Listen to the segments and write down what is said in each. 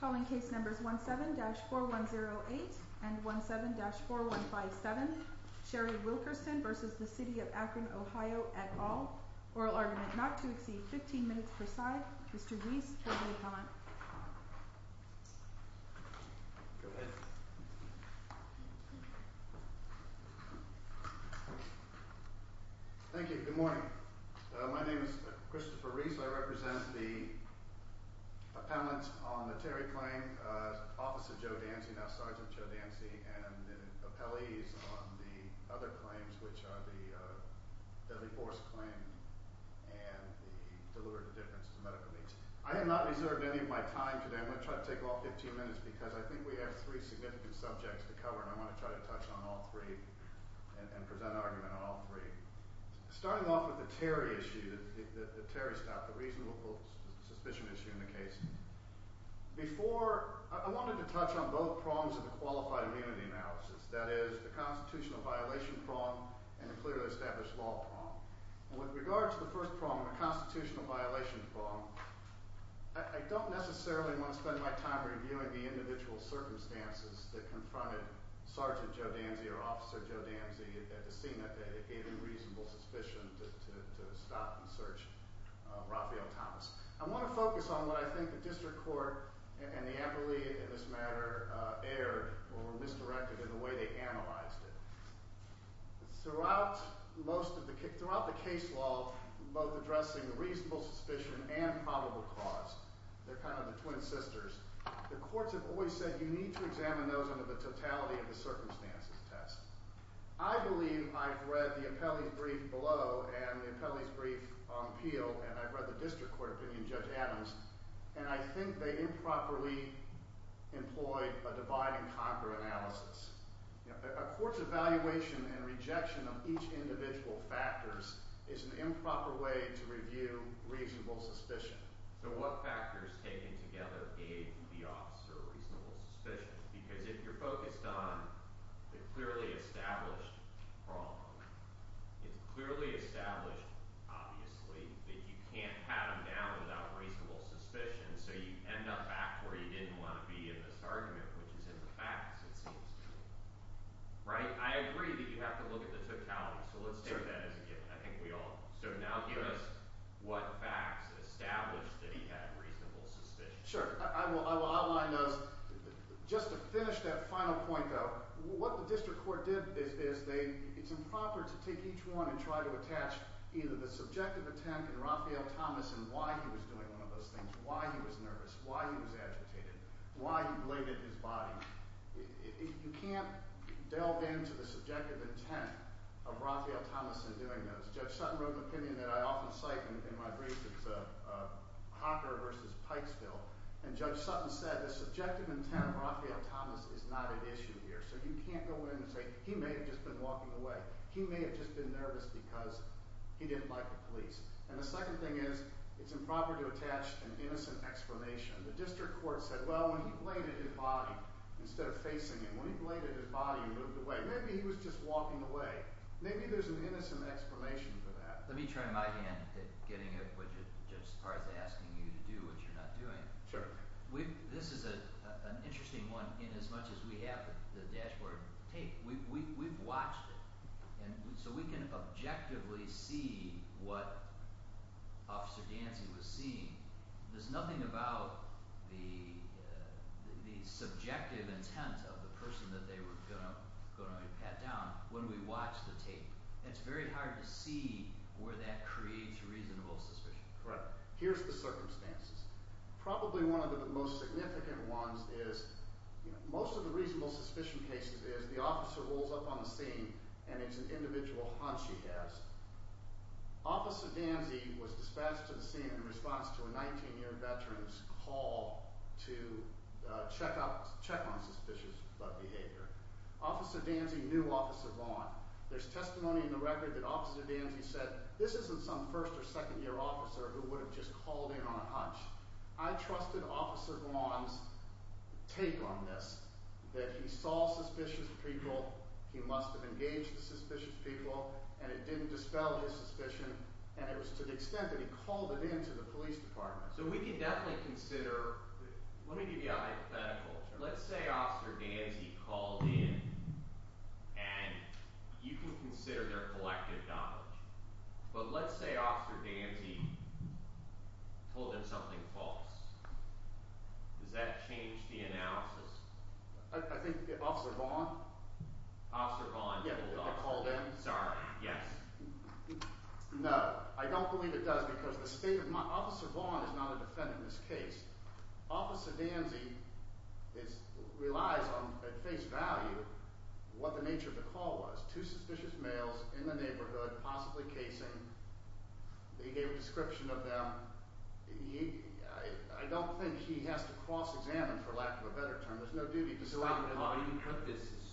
Calling case numbers 17-4108 and 17-4157 Sherry Wilkerson v. City of Akron OH et al. Oral argument not to exceed 15 minutes per side. Mr. Rees for the appellant. Thank you. Good morning. My name is Christopher Rees. I represent the appellants on the Terry claim. Officer Joe Dancy, now Sergeant Joe Dancy, and the appellees on the other claims, which are the deadly force claim and the deliberate indifference to medical needs. I have not reserved any of my time today. I'm going to try to take all 15 minutes because I think we have three significant subjects to cover and I want to try to touch on all three and present an argument on all three. Starting off with the Terry issue, the Terry stop, the reasonable suspicion issue in the case. Before, I wanted to touch on both prongs of the qualified immunity analysis, that is the constitutional violation prong and the clearly established law prong. With regard to the first prong, the constitutional violation prong, I don't necessarily want to spend my time reviewing the individual circumstances that confronted Sergeant Joe Dancy or Officer Joe Dancy at the scene that day, the reasonable suspicion to stop and search Rafael Thomas. I want to focus on what I think the district court and the appellee in this matter erred or misdirected in the way they analyzed it. Throughout the case law, both addressing the reasonable suspicion and probable cause, they're kind of the twin sisters, the courts have always said, you need to examine those under the totality of the circumstances test. I believe I've read the appellee's brief below and the appellee's brief on appeal and I've read the district court opinion, Judge Adams, and I think they improperly employed a divide and conquer analysis. A court's evaluation and rejection of each individual factors is an improper way to review reasonable suspicion. So what factors taken together gave the officer a reasonable suspicion? Because if you're focused on the clearly established problem, it's clearly established, obviously, that you can't pat him down without reasonable suspicion, so you end up back where you didn't want to be in this argument, which is in the facts, it seems, right? I agree that you have to look at the totality, so let's take that as a given. I think we all, so now give us what facts established that he had reasonable suspicion. Sure, I will outline those. Just to finish that final point, though, what the district court did is they, it's improper to take each one and try to attach either the subjective intent in Raphael Thomas and why he was doing one of those things, why he was nervous, why he was agitated, why he bladed his body. You can't delve into the subjective intent of Raphael Thomas in doing those. Judge Sutton wrote an opinion that I often cite in my brief that's a Hocker versus Pikesville and Judge Sutton said the subjective intent of Raphael Thomas is not at issue here, so you can't go in and say, he may have just been walking away, he may have just been nervous because he didn't like the police. And the second thing is, it's improper to attach an innocent explanation. The district court said, well, when he bladed his body, instead of facing him, when he bladed his body and moved away, maybe he was just walking away. Maybe there's an innocent explanation for that. Let me turn my hand at getting a widget, Judge Sparta's asking you to do what you're not doing. Sure. This is an interesting one, in as much as we have the dashboard tape, we've watched it, and so we can objectively see what Officer Dancy was seeing. There's nothing about the subjective intent of the person that they were going to pat down when we watch the tape. It's very hard to see where that creates reasonable suspicion. Right. Here's the circumstances. Probably one of the most significant ones is, most of the reasonable suspicion cases is the officer rolls up on the scene and it's an individual hunch he has. Officer Dancy was dispatched to the scene in response to a 19-year veteran's call to check on suspicious behavior. Officer Dancy knew Officer Vaughn. There's testimony in the record that Officer Dancy said, this isn't some first or second year officer who would have just called in on a hunch. I trusted Officer Vaughn's take on this, that he saw suspicious people, he must have engaged the suspicious people, and it didn't dispel his suspicion, and it was to the extent that he called it in to the police department. So we can definitely consider... Let me give you a hypothetical. Let's say Officer Dancy called in, and you can consider their collective knowledge. But let's say Officer Dancy told them something false. Does that change the analysis? I think Officer Vaughn... Officer Vaughn called in? Sorry, yes. No, I don't believe it does, because the state of mind... Officer Vaughn is not a defendant in this case. Officer Dancy relies on, at face value, what the nature of the call was. Two suspicious males in the neighborhood, possibly casing. They gave a description of them. I don't think he has to cross-examine, for lack of a better term. There's no duty to stop him. The way you put this is,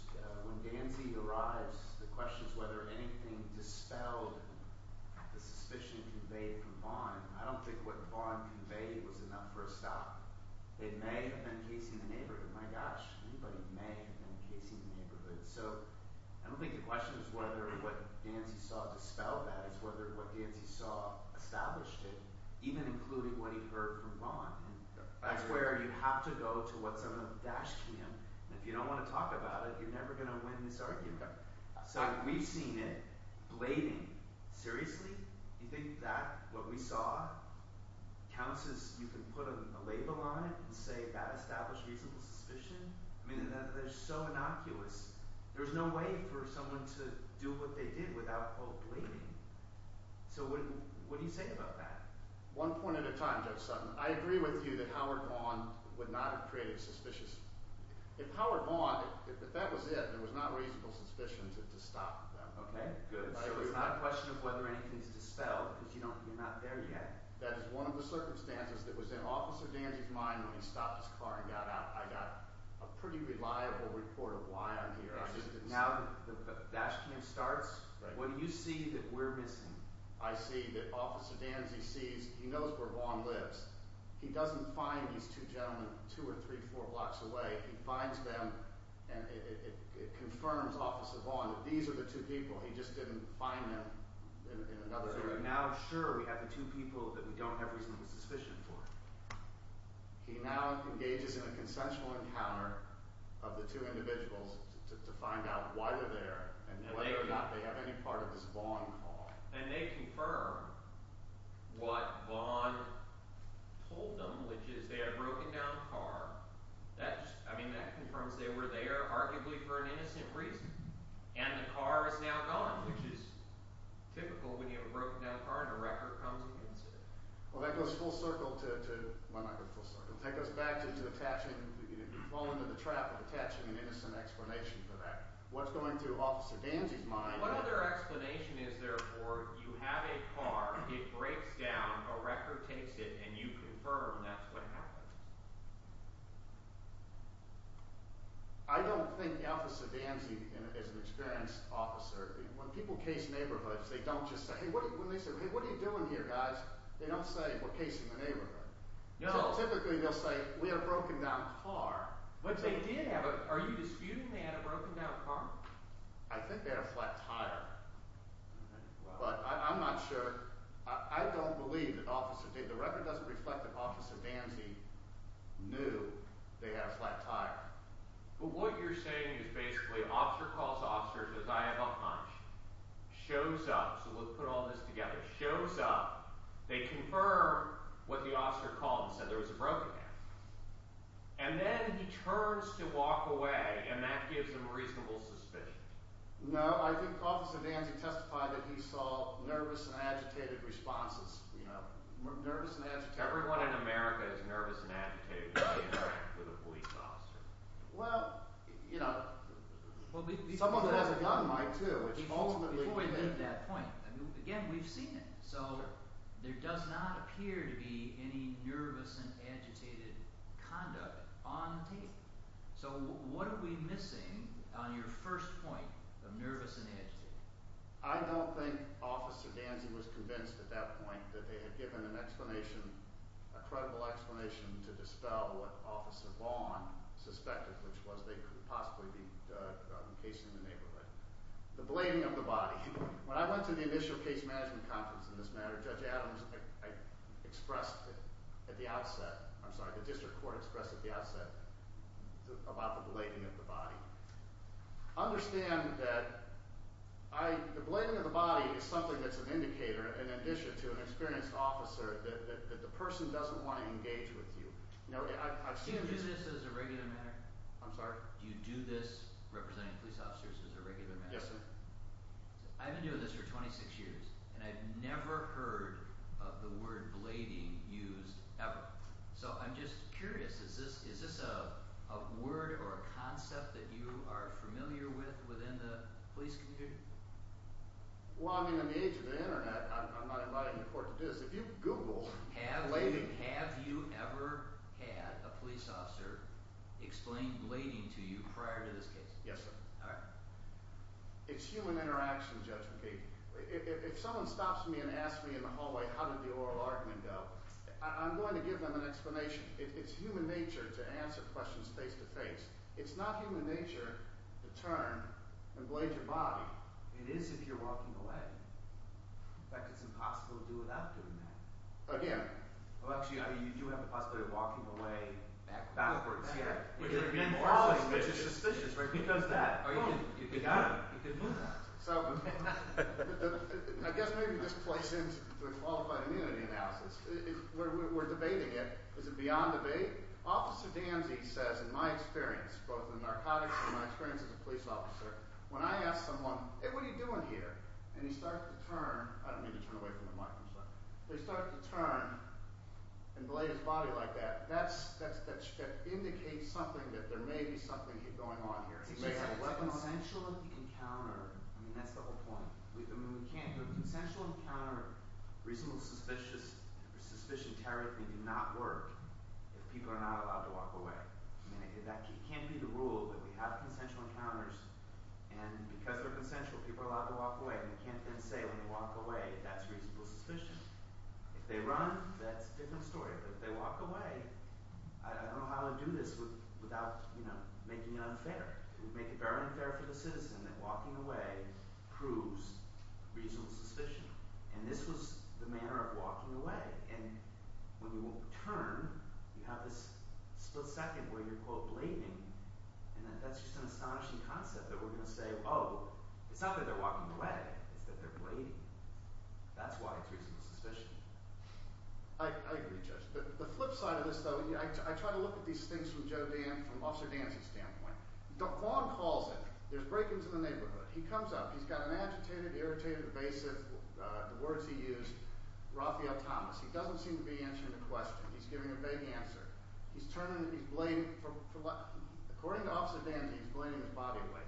when Dancy arrives, the question is whether anything dispelled the suspicion conveyed from Vaughn. I don't think what Vaughn conveyed was enough for a stop. They may have been casing the neighborhood. My gosh, anybody may have been casing the neighborhood. So I don't think the question is whether what Dancy saw dispelled that. It's whether what Dancy saw established it, even including what he heard from Vaughn. That's where you have to go to what some of them dashed to him. If you don't want to talk about it, you're never going to win this argument. We've seen it. Blading, seriously? You think that, what we saw, counts as you can put a label on it and say that established reasonable suspicion? I mean, they're so innocuous. There's no way for someone to do what they did without blading. So what do you think about that? One point at a time, Judge Sutton. I agree with you that Howard Vaughn would not have created a suspicion. If Howard Vaughn, if that was it, there was not reasonable suspicion to stop them. So it's not a question of whether anything's dispelled because you're not there yet. That is one of the circumstances that was in Officer Dancy's mind when he stopped his car and got out. I got a pretty reliable report of why I'm here. Now that the question starts, what do you see that we're missing? I see that Officer Dancy knows where Vaughn lives. He doesn't find these two gentlemen two or three blocks away. He finds them and it confirms Officer Vaughn that these are the two people. He just didn't find them. So now, sure, we have the two people that we don't have reasonable suspicion for. He now engages in a consensual encounter of the two individuals to find out why they're there and whether or not they have any part of this Vaughn call. And they confirm what Vaughn told them, which is they had a broken down car that confirms they were there arguably for an innocent reason and the car is now gone which is typical when you have a broken down car and a record comes against it. Well that goes full circle to take us back to fall into the trap of attaching an innocent explanation for that. What's going through Officer Dancy's mind What other explanation is there for you have a car, it breaks down a record takes it and you confirm that's what happened? I don't think Officer Dancy is an experienced officer. When people case neighborhoods they don't just say, hey what are you doing here guys? They don't say, we're casing the neighborhood. Typically they'll say, we had a broken down car But they did have a are you disputing they had a broken down car? I think they had a flat tire but I'm not sure, I don't believe that Officer, the record doesn't reflect that Officer Dancy knew they had a flat tire. But what you're saying is basically an officer calls an officer and says I have a hunch shows up, so let's put all this together shows up, they confirm what the officer called and said there was a broken down car and then he turns to walk away and that gives him reasonable suspicion No, I think Officer Dancy testified that he saw nervous and agitated responses nervous and agitated Everyone in America is nervous and agitated when they interact with a police officer Well, you know someone who has a gun might too Before we leave that point again, we've seen it So there does not appear to be any nervous and agitated conduct on tape So what are we missing on your first point of nervous and agitated? I don't think Officer Dancy was convinced at that point that they had given an explanation, a credible explanation to dispel what Officer Vaughn suspected which was they could possibly be casing the neighborhood The blaming of the body When I went to the initial case management conference on this matter, Judge Adams expressed at the outset I'm sorry, the district court expressed at the outset about the blaming of the body Understand that the blaming of the body is something that's an indicator in addition to an experienced officer that the person doesn't want to engage with you Do you do this as a regular matter? I'm sorry? Do you do this representing police officers as a regular matter? I've been doing this for 26 years and I've never heard of the word blading used ever So I'm just curious Is this a word or a concept that you are familiar with within the police community? Well I mean in the age of the internet I'm not in court to do this If you Google Have you ever had a police officer explain blading to you prior to this case? Yes sir It's human interaction, Judge McKee If someone stops me and asks me in the hallway how did the oral argument go I'm going to give them an explanation It's human nature to answer questions face to face It's not human nature to turn and blade your body It is if you're walking away In fact it's impossible to do without doing that Again Well actually you do have the possibility of walking away backwards Which is suspicious Because of that You could move that I guess maybe this plays into the qualified immunity analysis We're debating it Is it beyond debate? Officer Danzy says in my experience both in narcotics and my experience as a police officer When I ask someone Hey what are you doing here? I don't mean to turn away from the mic They start to turn and blade his body like that That indicates something that there may be something going on here It's a consensual encounter I mean that's the whole point We can't do a consensual encounter Reasonable suspicion terribly do not work if people are not allowed to walk away It can't be the rule that we have consensual encounters and because they're consensual people are allowed to walk away We can't then say when they walk away that's reasonable suspicion If they run, that's a different story If they walk away I don't know how to do this without making it unfair It would make it very unfair for the citizen that walking away proves reasonable suspicion and this was the manner of walking away and when you turn you have this split second where you're quote blading and that's just an astonishing concept that we're going to say Oh it's not that they're walking away It's that they're blading That's why it's reasonable suspicion I agree Judge The flip side of this though I try to look at these things from Officer Dancy's standpoint Quan calls it There's break-ins in the neighborhood He comes up, he's got an agitated, irritated, evasive the words he used Raphael Thomas He doesn't seem to be answering the question He's giving a vague answer According to Officer Dancy he's blading his body away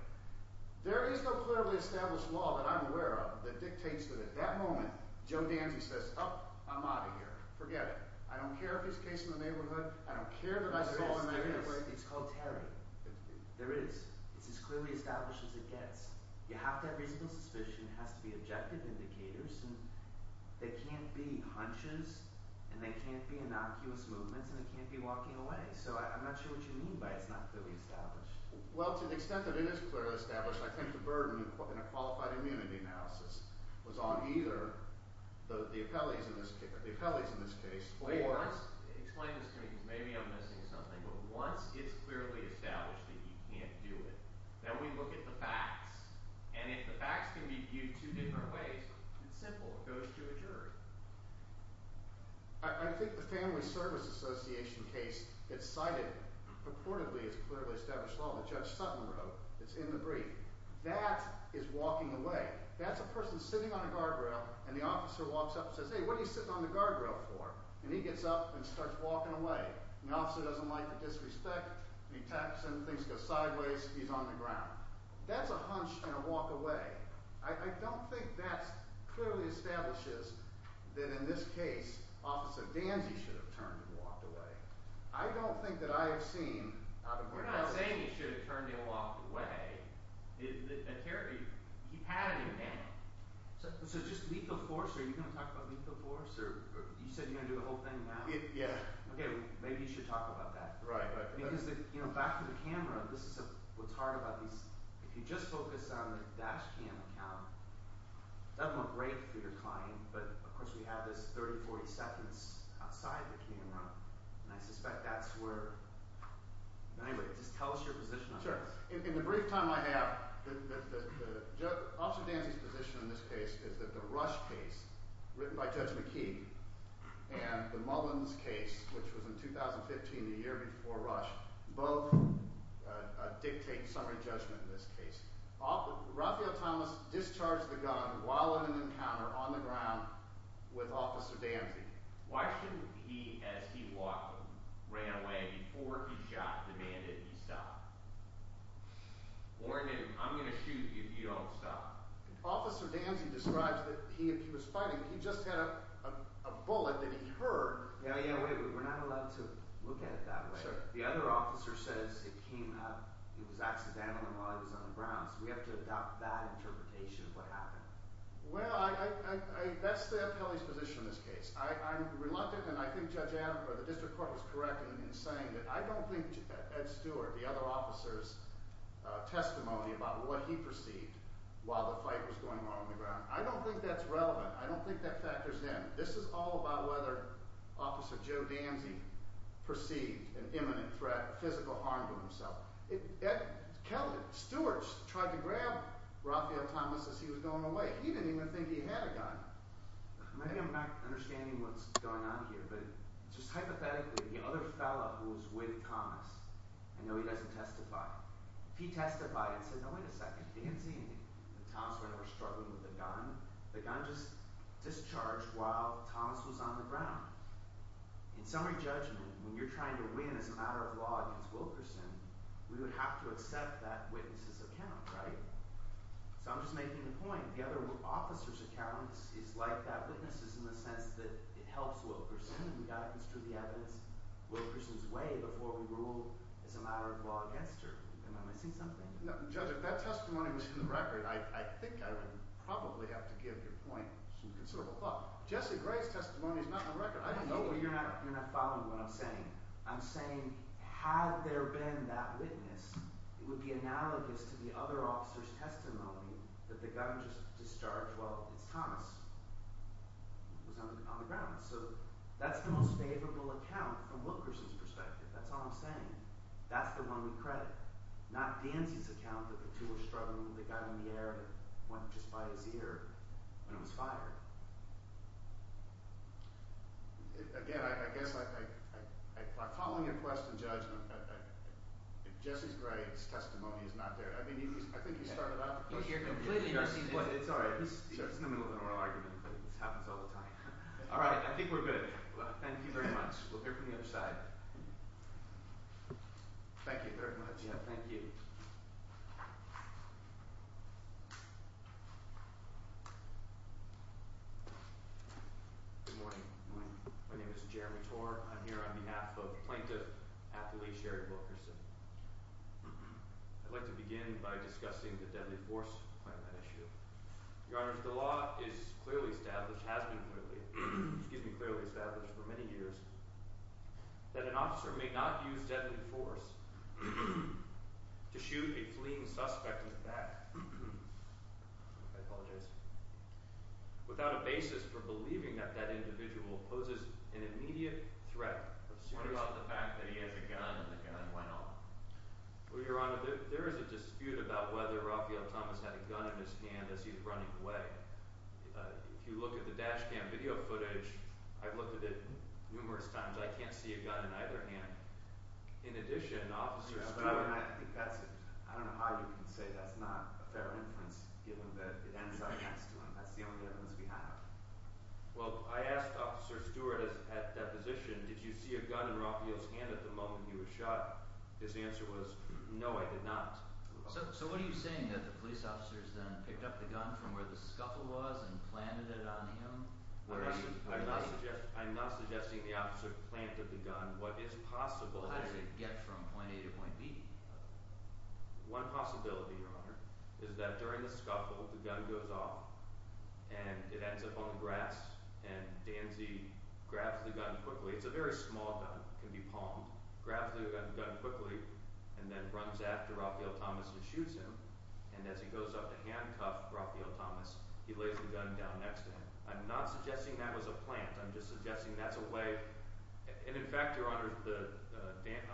There is no clearly established law that I'm aware of that dictates that at that moment Joe Dancy says Oh I'm out of here, forget it I don't care if it's the case in the neighborhood I don't care if it's all in my head It's called Terry It's as clearly established as it gets You have to have reasonable suspicion It has to be objective indicators They can't be hunches and they can't be innocuous movements and they can't be walking away So I'm not sure what you mean by it's not clearly established Well to the extent that it is clearly established I think the burden in a qualified immunity analysis was on either the appellees in this case or Maybe I'm missing something but once it's clearly established that you can't do it then we look at the facts and if the facts can be viewed two different ways it's simple, it goes to a jury I think the Family Service Association case it's cited purportedly is clearly established law Judge Sutton wrote, it's in the brief That is walking away That's a person sitting on a guardrail and the officer walks up and says hey what are you sitting on the guardrail for and he gets up and starts walking away and the officer doesn't like the disrespect and he taps him, things go sideways he's on the ground That's a hunch and a walk away I don't think that clearly establishes that in this case Officer Danzy should have turned and walked away I don't think that I have seen We're not saying he should have turned and walked away He had a new name So just lethal force are you going to talk about lethal force You said you're going to do the whole thing now Maybe you should talk about that Because back to the camera this is what's hard about these if you just focus on the dash cam account that would look great for your client but of course we have this 30-40 seconds outside the camera and I suspect that's where just tell us your position In the brief time I have Officer Danzy's position in this case is that the Rush case written by Judge McKee and the Mullins case which was in 2015, the year before Rush both dictate summary judgment in this case Raphael Thomas discharged the gun while in an encounter on the ground with Officer Danzy Why shouldn't he, as he walked away before he shot demand that he stop warn him, I'm going to shoot you if you don't stop Officer Danzy describes that he was fighting, he just had a bullet that he heard We're not allowed to look at it that way The other officer says it came up it was accidental and while he was on the ground so we have to adopt that interpretation of what happened Well, that's the appellee's position in this case I'm reluctant and I think the District Court was correct in saying that I don't think Ed Stewart, the other officer's testimony about what he perceived while the fight was going on on the ground, I don't think that's relevant I don't think that factors in This is all about whether Officer Joe Danzy perceived an imminent threat physical harm to himself Ed Stewart tried to grab Raphael Thomas he didn't even think he had a gun Maybe I'm not understanding what's going on here but just hypothetically, the other fellow who was with Thomas I know he doesn't testify If he testified and said, no wait a second Danzy and Thomas were struggling with the gun the gun just discharged while Thomas was on the ground In summary judgment when you're trying to win as a matter of law against Wilkerson we would have to accept that witness's account So I'm just making the point the other officer's account is like that witness's in the sense that it helps Wilkerson we've got to construe the evidence Wilkerson's way before we rule as a matter of law against her Judge, if that testimony was in the record I think I would probably have to give your point some considerable thought Jesse Gray's testimony is not in the record You're not following what I'm saying I'm saying had there been that witness it would be analogous to the other officer's testimony that the gun just discharged while Thomas was on the ground So that's the most favorable account from Wilkerson's perspective That's all I'm saying That's the one we credit Not Danzy's account that the two were struggling with the gun in the air when it was fired Again, I guess by following your question, Judge Jesse Gray's testimony is not there I think you started off It's alright This happens all the time Alright, I think we're good Thank you very much We'll hear from the other side Thank you very much Good morning My name is Jeremy Torr I'm here on behalf of Plaintiff Athlete Sherry Wilkerson I'd like to begin by discussing the deadly force Your Honor, the law is clearly established has been clearly established for many years that an officer may not use deadly force to shoot a fleeing suspect in the back I apologize without a basis for believing that that individual poses an immediate threat What about the fact that he has a gun and the gun went off? Your Honor, there is a dispute about whether Raphael Thomas had a gun in his hand as he was running away If you look at the dash cam video footage I've looked at it numerous times I can't see a gun in either hand In addition, officers I don't know how you can say that's not a fair inference That's the only inference we have Well, I asked Officer Stewart at deposition, did you see a gun in Raphael's hand at the moment he was shot? His answer was, no I did not. So what are you saying that the police officers then picked up the gun from where the scuffle was and planted it on him? I'm not suggesting the officer planted the gun. What is possible How does it get from point A to point B? One possibility Your Honor, is that during the scuffle, the gun goes off and it ends up on the grass and Danzy grabs the gun quickly. It's a very small gun It can be palmed. Grabs the gun quickly and then runs after Raphael Thomas and shoots him and as he goes up to handcuff Raphael Thomas he lays the gun down next to him I'm not suggesting that was a plant I'm just suggesting that's a way and in fact, Your Honor, the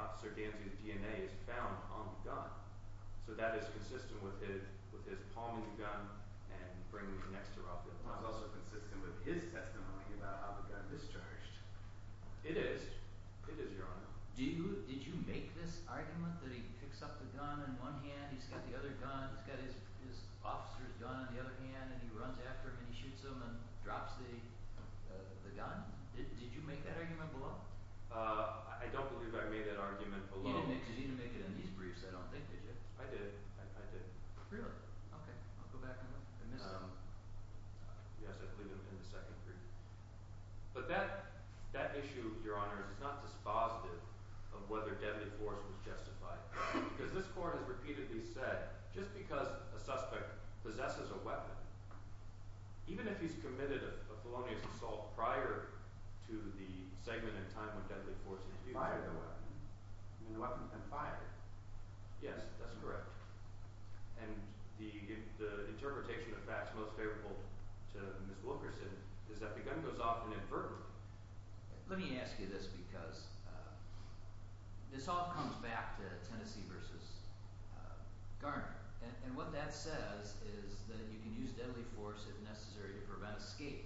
officer Danzy's DNA is found on the gun so that is consistent with his palming and bringing it next to Raphael Thomas It's also consistent with his testimony about how the gun discharged It is. It is, Your Honor Did you make this argument that he picks up the gun in one hand he's got the other gun he's got his officer's gun in the other hand and he runs after him and shoots him and drops the gun? Did you make that argument below? I don't believe I made that argument below You didn't make it in these briefs I don't think you did. I did Really? Okay, I'll go back and look I missed something Yes, I believe it was in the second brief But that issue, Your Honor is not dispositive of whether deadly force was justified because this court has repeatedly said just because a suspect possesses a weapon even if he's committed a felonious assault prior to the segment in time when deadly force is used, he can fire the weapon and the weapon can fire Yes, that's correct And the interpretation of facts most favorable to Ms. Wilkerson is that the gun goes off inadvertently Let me ask you this because this all comes back to Tennessee vs. Garner and what that says is that you can use deadly force if necessary to prevent escape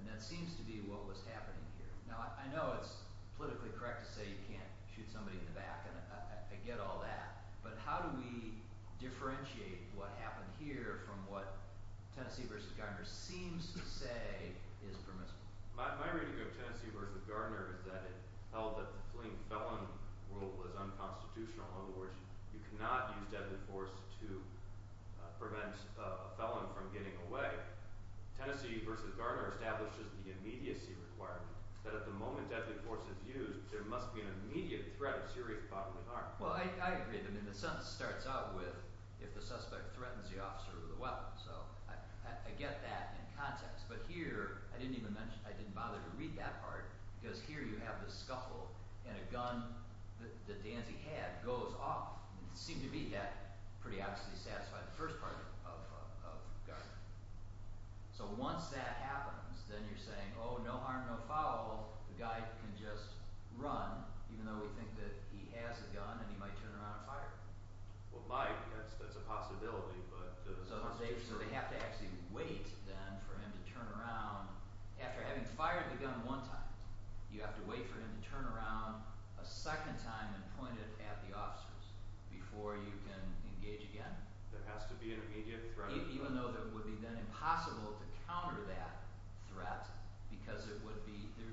and that seems to be what was happening here. Now, I know it's politically correct to say you can't shoot somebody I get all that but how do we differentiate what happened here from what Tennessee vs. Garner seems to say is permissible My reading of Tennessee vs. Garner is that it held that the fleeing felon rule was unconstitutional in other words, you cannot use deadly force to prevent a felon from getting away Tennessee vs. Garner establishes the immediacy requirement that at the moment deadly force is used there must be an immediate threat of serious bodily harm Well, I agree with him the sentence starts out with if the suspect threatens the officer with a weapon I get that in context but here, I didn't even mention I didn't bother to read that part because here you have the scuffle and a gun that Dancy had goes off. It seemed to be that pretty obviously satisfied the first part of Garner So once that happens then you're saying, oh no harm no foul the guy can just run even though we think that he has a gun and he might turn around and fire Well, might. That's a possibility So they have to actually wait then for him to turn around after having fired the gun one time. You have to wait for him to turn around a second time and point it at the officers before you can engage again There has to be an immediate threat Even though it would be then impossible to counter that threat because there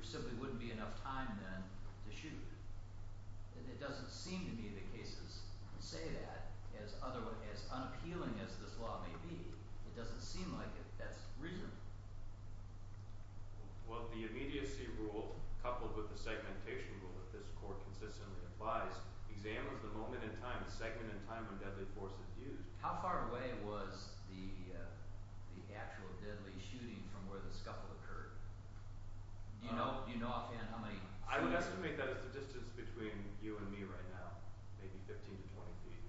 simply wouldn't be enough time then to shoot It doesn't seem to me that cases say that as unappealing as this law may be It doesn't seem like it That's reasonable Well, the immediacy rule coupled with the segmentation rule that this court consistently applies examines the moment in time the second in time when deadly force is used How far away was the actual deadly shooting from where the scuffle occurred Do you know offhand how many? I would estimate that as the distance between you and me right now maybe 15 to 20 feet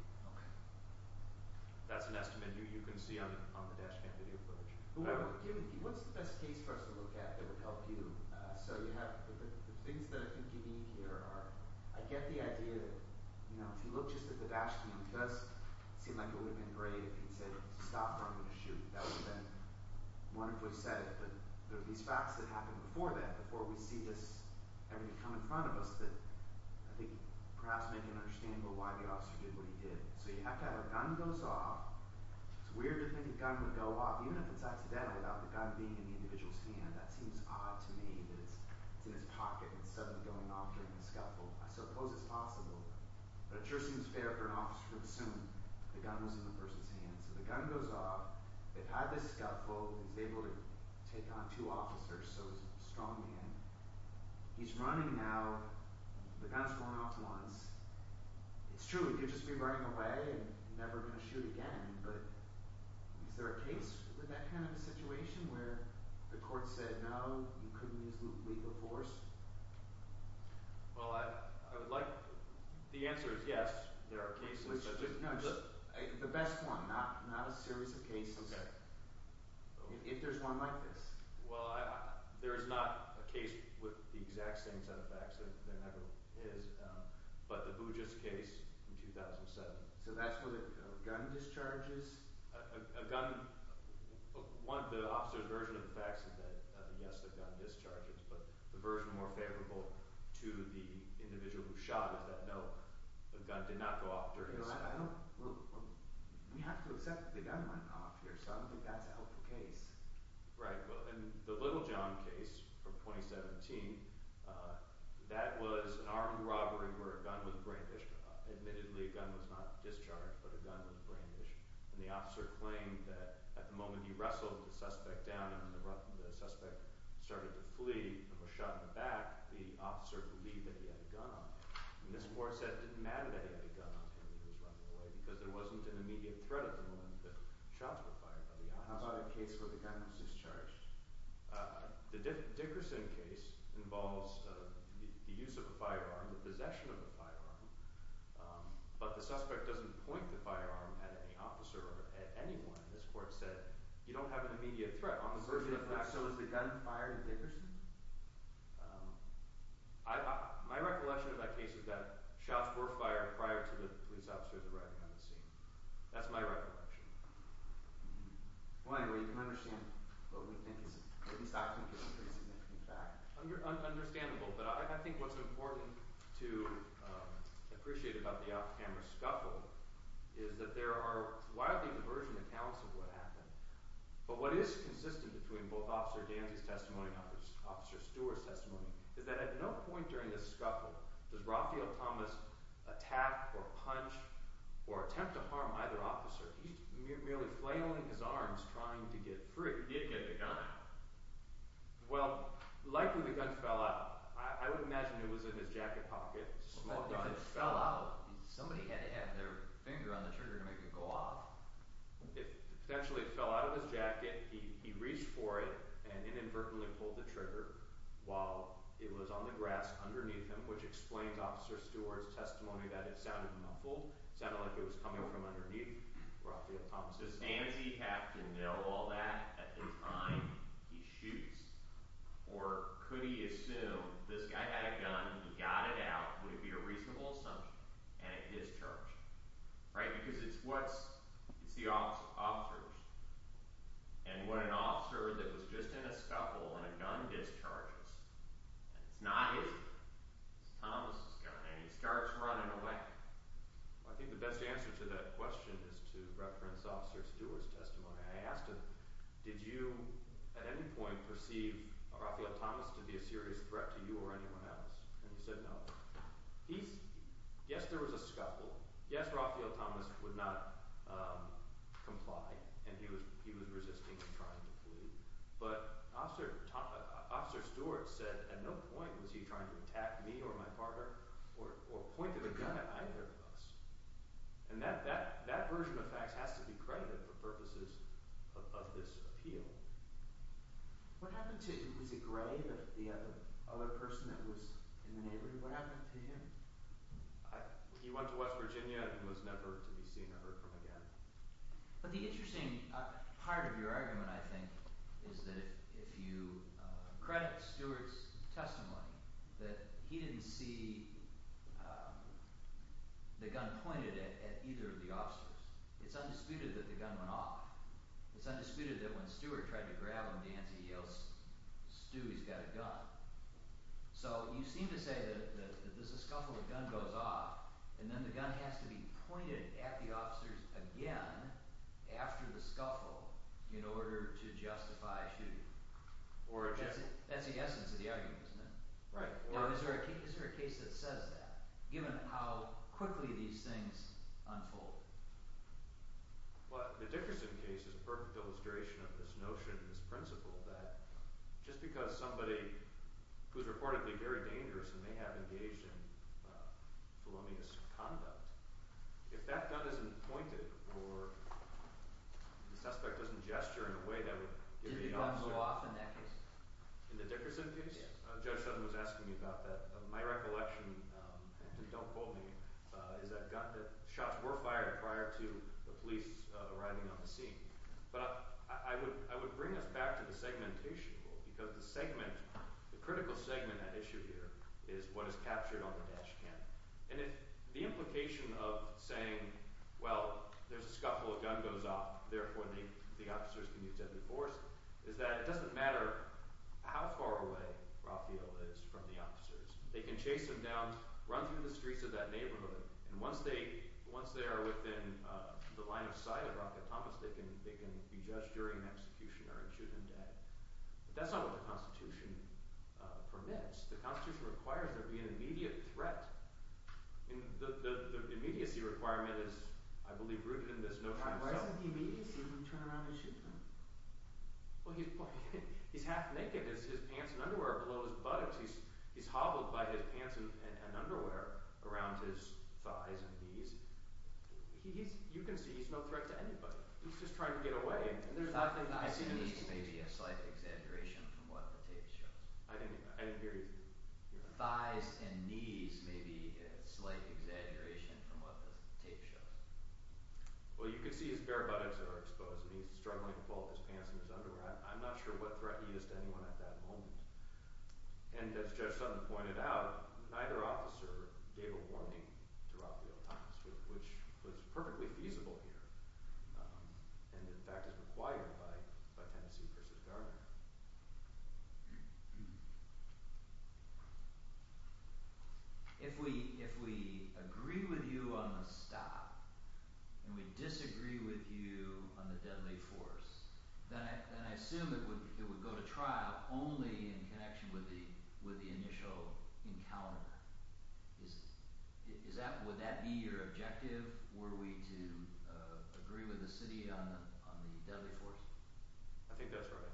That's an estimate you can see on the dash cam video footage What's the best case for us to look at that would help you? The things that I think you mean here are I get the idea that if you look just at the dash cam it does seem like it would have been great if he said stop or I'm going to shoot That would have been wonderful if he said it but these facts that happened before that before we see this come in front of us that I think perhaps make it understandable why the officer did what he did So you have to have a gun goes off It's weird to think a gun would go off even if it's accidental without the gun being in the individual's hand That seems odd to me that it's in his pocket and suddenly going off during the scuffle I suppose it's possible but it sure seems fair for an officer to assume the gun was in the person's hand So the gun goes off They've had this scuffle He's able to take on two officers so he's a strong man He's running now The gun's gone off once It's true, he could just be running away and never going to shoot again but is there a case with that kind of situation where the court said no, you couldn't use legal force Well, I would like The answer is yes There are cases The best one Not a series of cases If there's one like this Well, there's not a case with the exact same set of facts as there ever is But the Bouges case in 2007 So that's where the gun discharges A gun The officer's version of the facts is that yes, the gun discharges But the version more favorable to the individual who shot is that no, the gun did not go off during the scuffle We have to accept that the gun went off here, so I don't think that's a helpful case Right, and the Littlejohn case from 2017 That was an armed robbery where a gun was brandished Admittedly, a gun was not discharged but a gun was brandished and the officer claimed that at the moment he wrestled the suspect down and the suspect started to flee and was shot in the back the officer believed that he had a gun on him and this court said it didn't matter that he had a gun on him when he was running away because there wasn't an immediate threat at the moment that shots were fired How about a case where the gun was discharged? The Dickerson case involves the use of a firearm the possession of a firearm but the suspect doesn't point the firearm at any officer or at anyone and this court said you don't have an immediate threat So is the gun fired at Dickerson? My recollection of that case is that shots were fired prior to the police officers arriving on the scene That's my recollection Well anyway, you can understand what we think is a pretty significant fact Understandable, but I think what's important to appreciate about the off-camera scuffle is that there are wildly divergent accounts of what happened but what is consistent between both Officer Danzy's testimony and Officer Stewart's testimony is that at no point during this scuffle does Raphael Thomas attack or punch or attempt to harm either officer. He's merely flailing his arms trying to get free He did get the gun Well, likely the gun fell out I would imagine it was in his jacket pocket Somebody had to have their finger on the trigger to make it go off It potentially fell out of his jacket He reached for it and inadvertently pulled the trigger while it was on the grass underneath him which explains Officer Stewart's testimony that it sounded muffled It sounded like it was coming from underneath Raphael Thomas Does Danzy have to know all that at the time he shoots or could he assume this guy had a gun, he got it out would it be a reasonable assumption and it discharged because it's the officers and when an officer that was just in a scuffle and a gun discharges and it's not his gun it's Thomas' gun and he starts running away I think the best answer to that question is to reference Officer Stewart's testimony I asked him, did you at any point perceive Raphael Thomas to be a serious threat to you or anyone else and he said no Yes there was a scuffle Yes Raphael Thomas would not comply and he was resisting and trying to flee but Officer Stewart said at no point was he trying to attack me or my partner or point a gun at either of us and that version of facts has to be credited for purposes of this appeal What happened to was it Gray the other person that was in the neighborhood, what happened to him He went to West Virginia and was never to be seen or heard from again But the interesting part of your argument I think is that if you credit Stewart's testimony that he didn't see the gun pointed at either of the officers it's undisputed that the gun went off, it's undisputed that when Stewart tried to grab him the answer he yells Stu he's got a gun So you seem to say that there's a scuffle, the gun goes off and then the gun has to be pointed at the officers again after the scuffle in order to justify shooting That's the essence of the argument isn't it? Now is there a case that says that given how quickly these things unfold Well the Dickerson case is a perfect illustration of this notion and this principle that just because somebody who's reportedly very dangerous and may have engaged in felonious conduct if that gun isn't pointed or the suspect doesn't gesture in a way that would give the officer Did the gun go off in that case? In the Dickerson case? Judge Sutton was asking me about that My recollection, and don't quote me is that shots were fired prior to the police arriving on the scene But I would bring us back to the segmentation rule because the critical segment at issue here is what is captured on the dash cam and the implication of saying well there's a scuffle, a gun goes off therefore the officers can use heavy force is that it doesn't matter how far away Rafael is from the officers They can chase him down, run through the streets of that neighborhood and once they are within the line of sight they can be judged during an execution or shoot him dead That's not what the Constitution permits. The Constitution requires there be an immediate threat The immediacy requirement is, I believe, rooted in this notion Why isn't he immediacy when you turn around and shoot him? He's half naked his pants and underwear are below his buttocks he's hobbled by his pants and underwear around his thighs and knees You can see he's no threat to anybody He's just trying to get away Thighs and knees may be a slight exaggeration from what the tape shows I didn't hear you Thighs and knees may be a slight exaggeration from what the tape shows Well you can see his bare buttocks are exposed and he's struggling to pull off his pants and his underwear I'm not sure what threat he is to anyone at that moment And as Judge Sutton pointed out neither officer gave a warning to rob the autopist which was perfectly feasible here and in fact is required by Tennessee v. Gardner If we agree with you on the stop and we disagree with you on the deadly force then I assume it would go to trial only in connection with the initial encounter Would that be your objective? Were we to agree with the city on the deadly force? I think that's right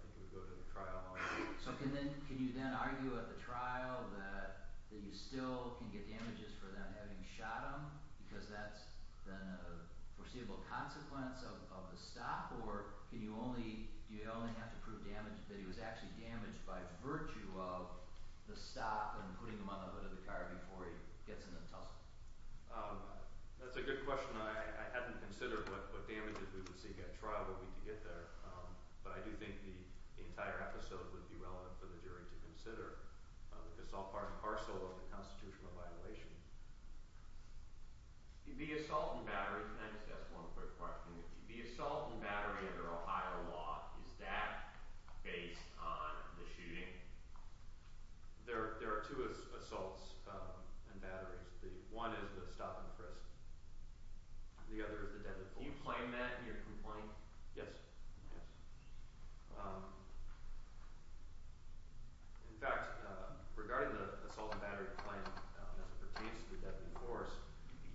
So can you then argue at the trial that you still can get damages for them having shot him because that's then a foreseeable consequence of the stop or do you only have to prove that he was actually damaged by virtue of the stop and putting him on the hood of the car before he gets in the tussle? That's a good question I haven't considered what damages we would seek at trial but we can get there but I do think the entire episode would be relevant for the jury to consider because it's all part and parcel of the constitutional violation The assault and battery I just have one quick question The assault and battery under Ohio law is that based on the shooting? There are two assaults and batteries One is the stop and frisk The other is the deadly force Do you claim that in your complaint? Yes In fact regarding the assault and battery claim as it pertains to the deadly force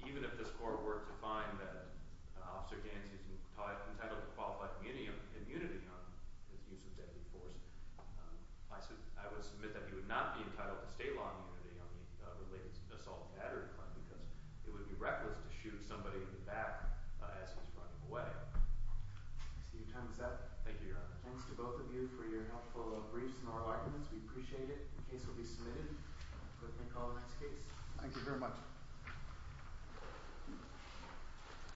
even if this court were to find that Officer Dancy is entitled to qualified immunity on his use of deadly force I would submit that he would not be entitled to state law immunity on the assault and battery claim because it would be reckless to shoot somebody in the back as he's running away I see your time is up Thank you Your Honor Thanks to both of you for your helpful briefs We appreciate it The case will be submitted Thank you very much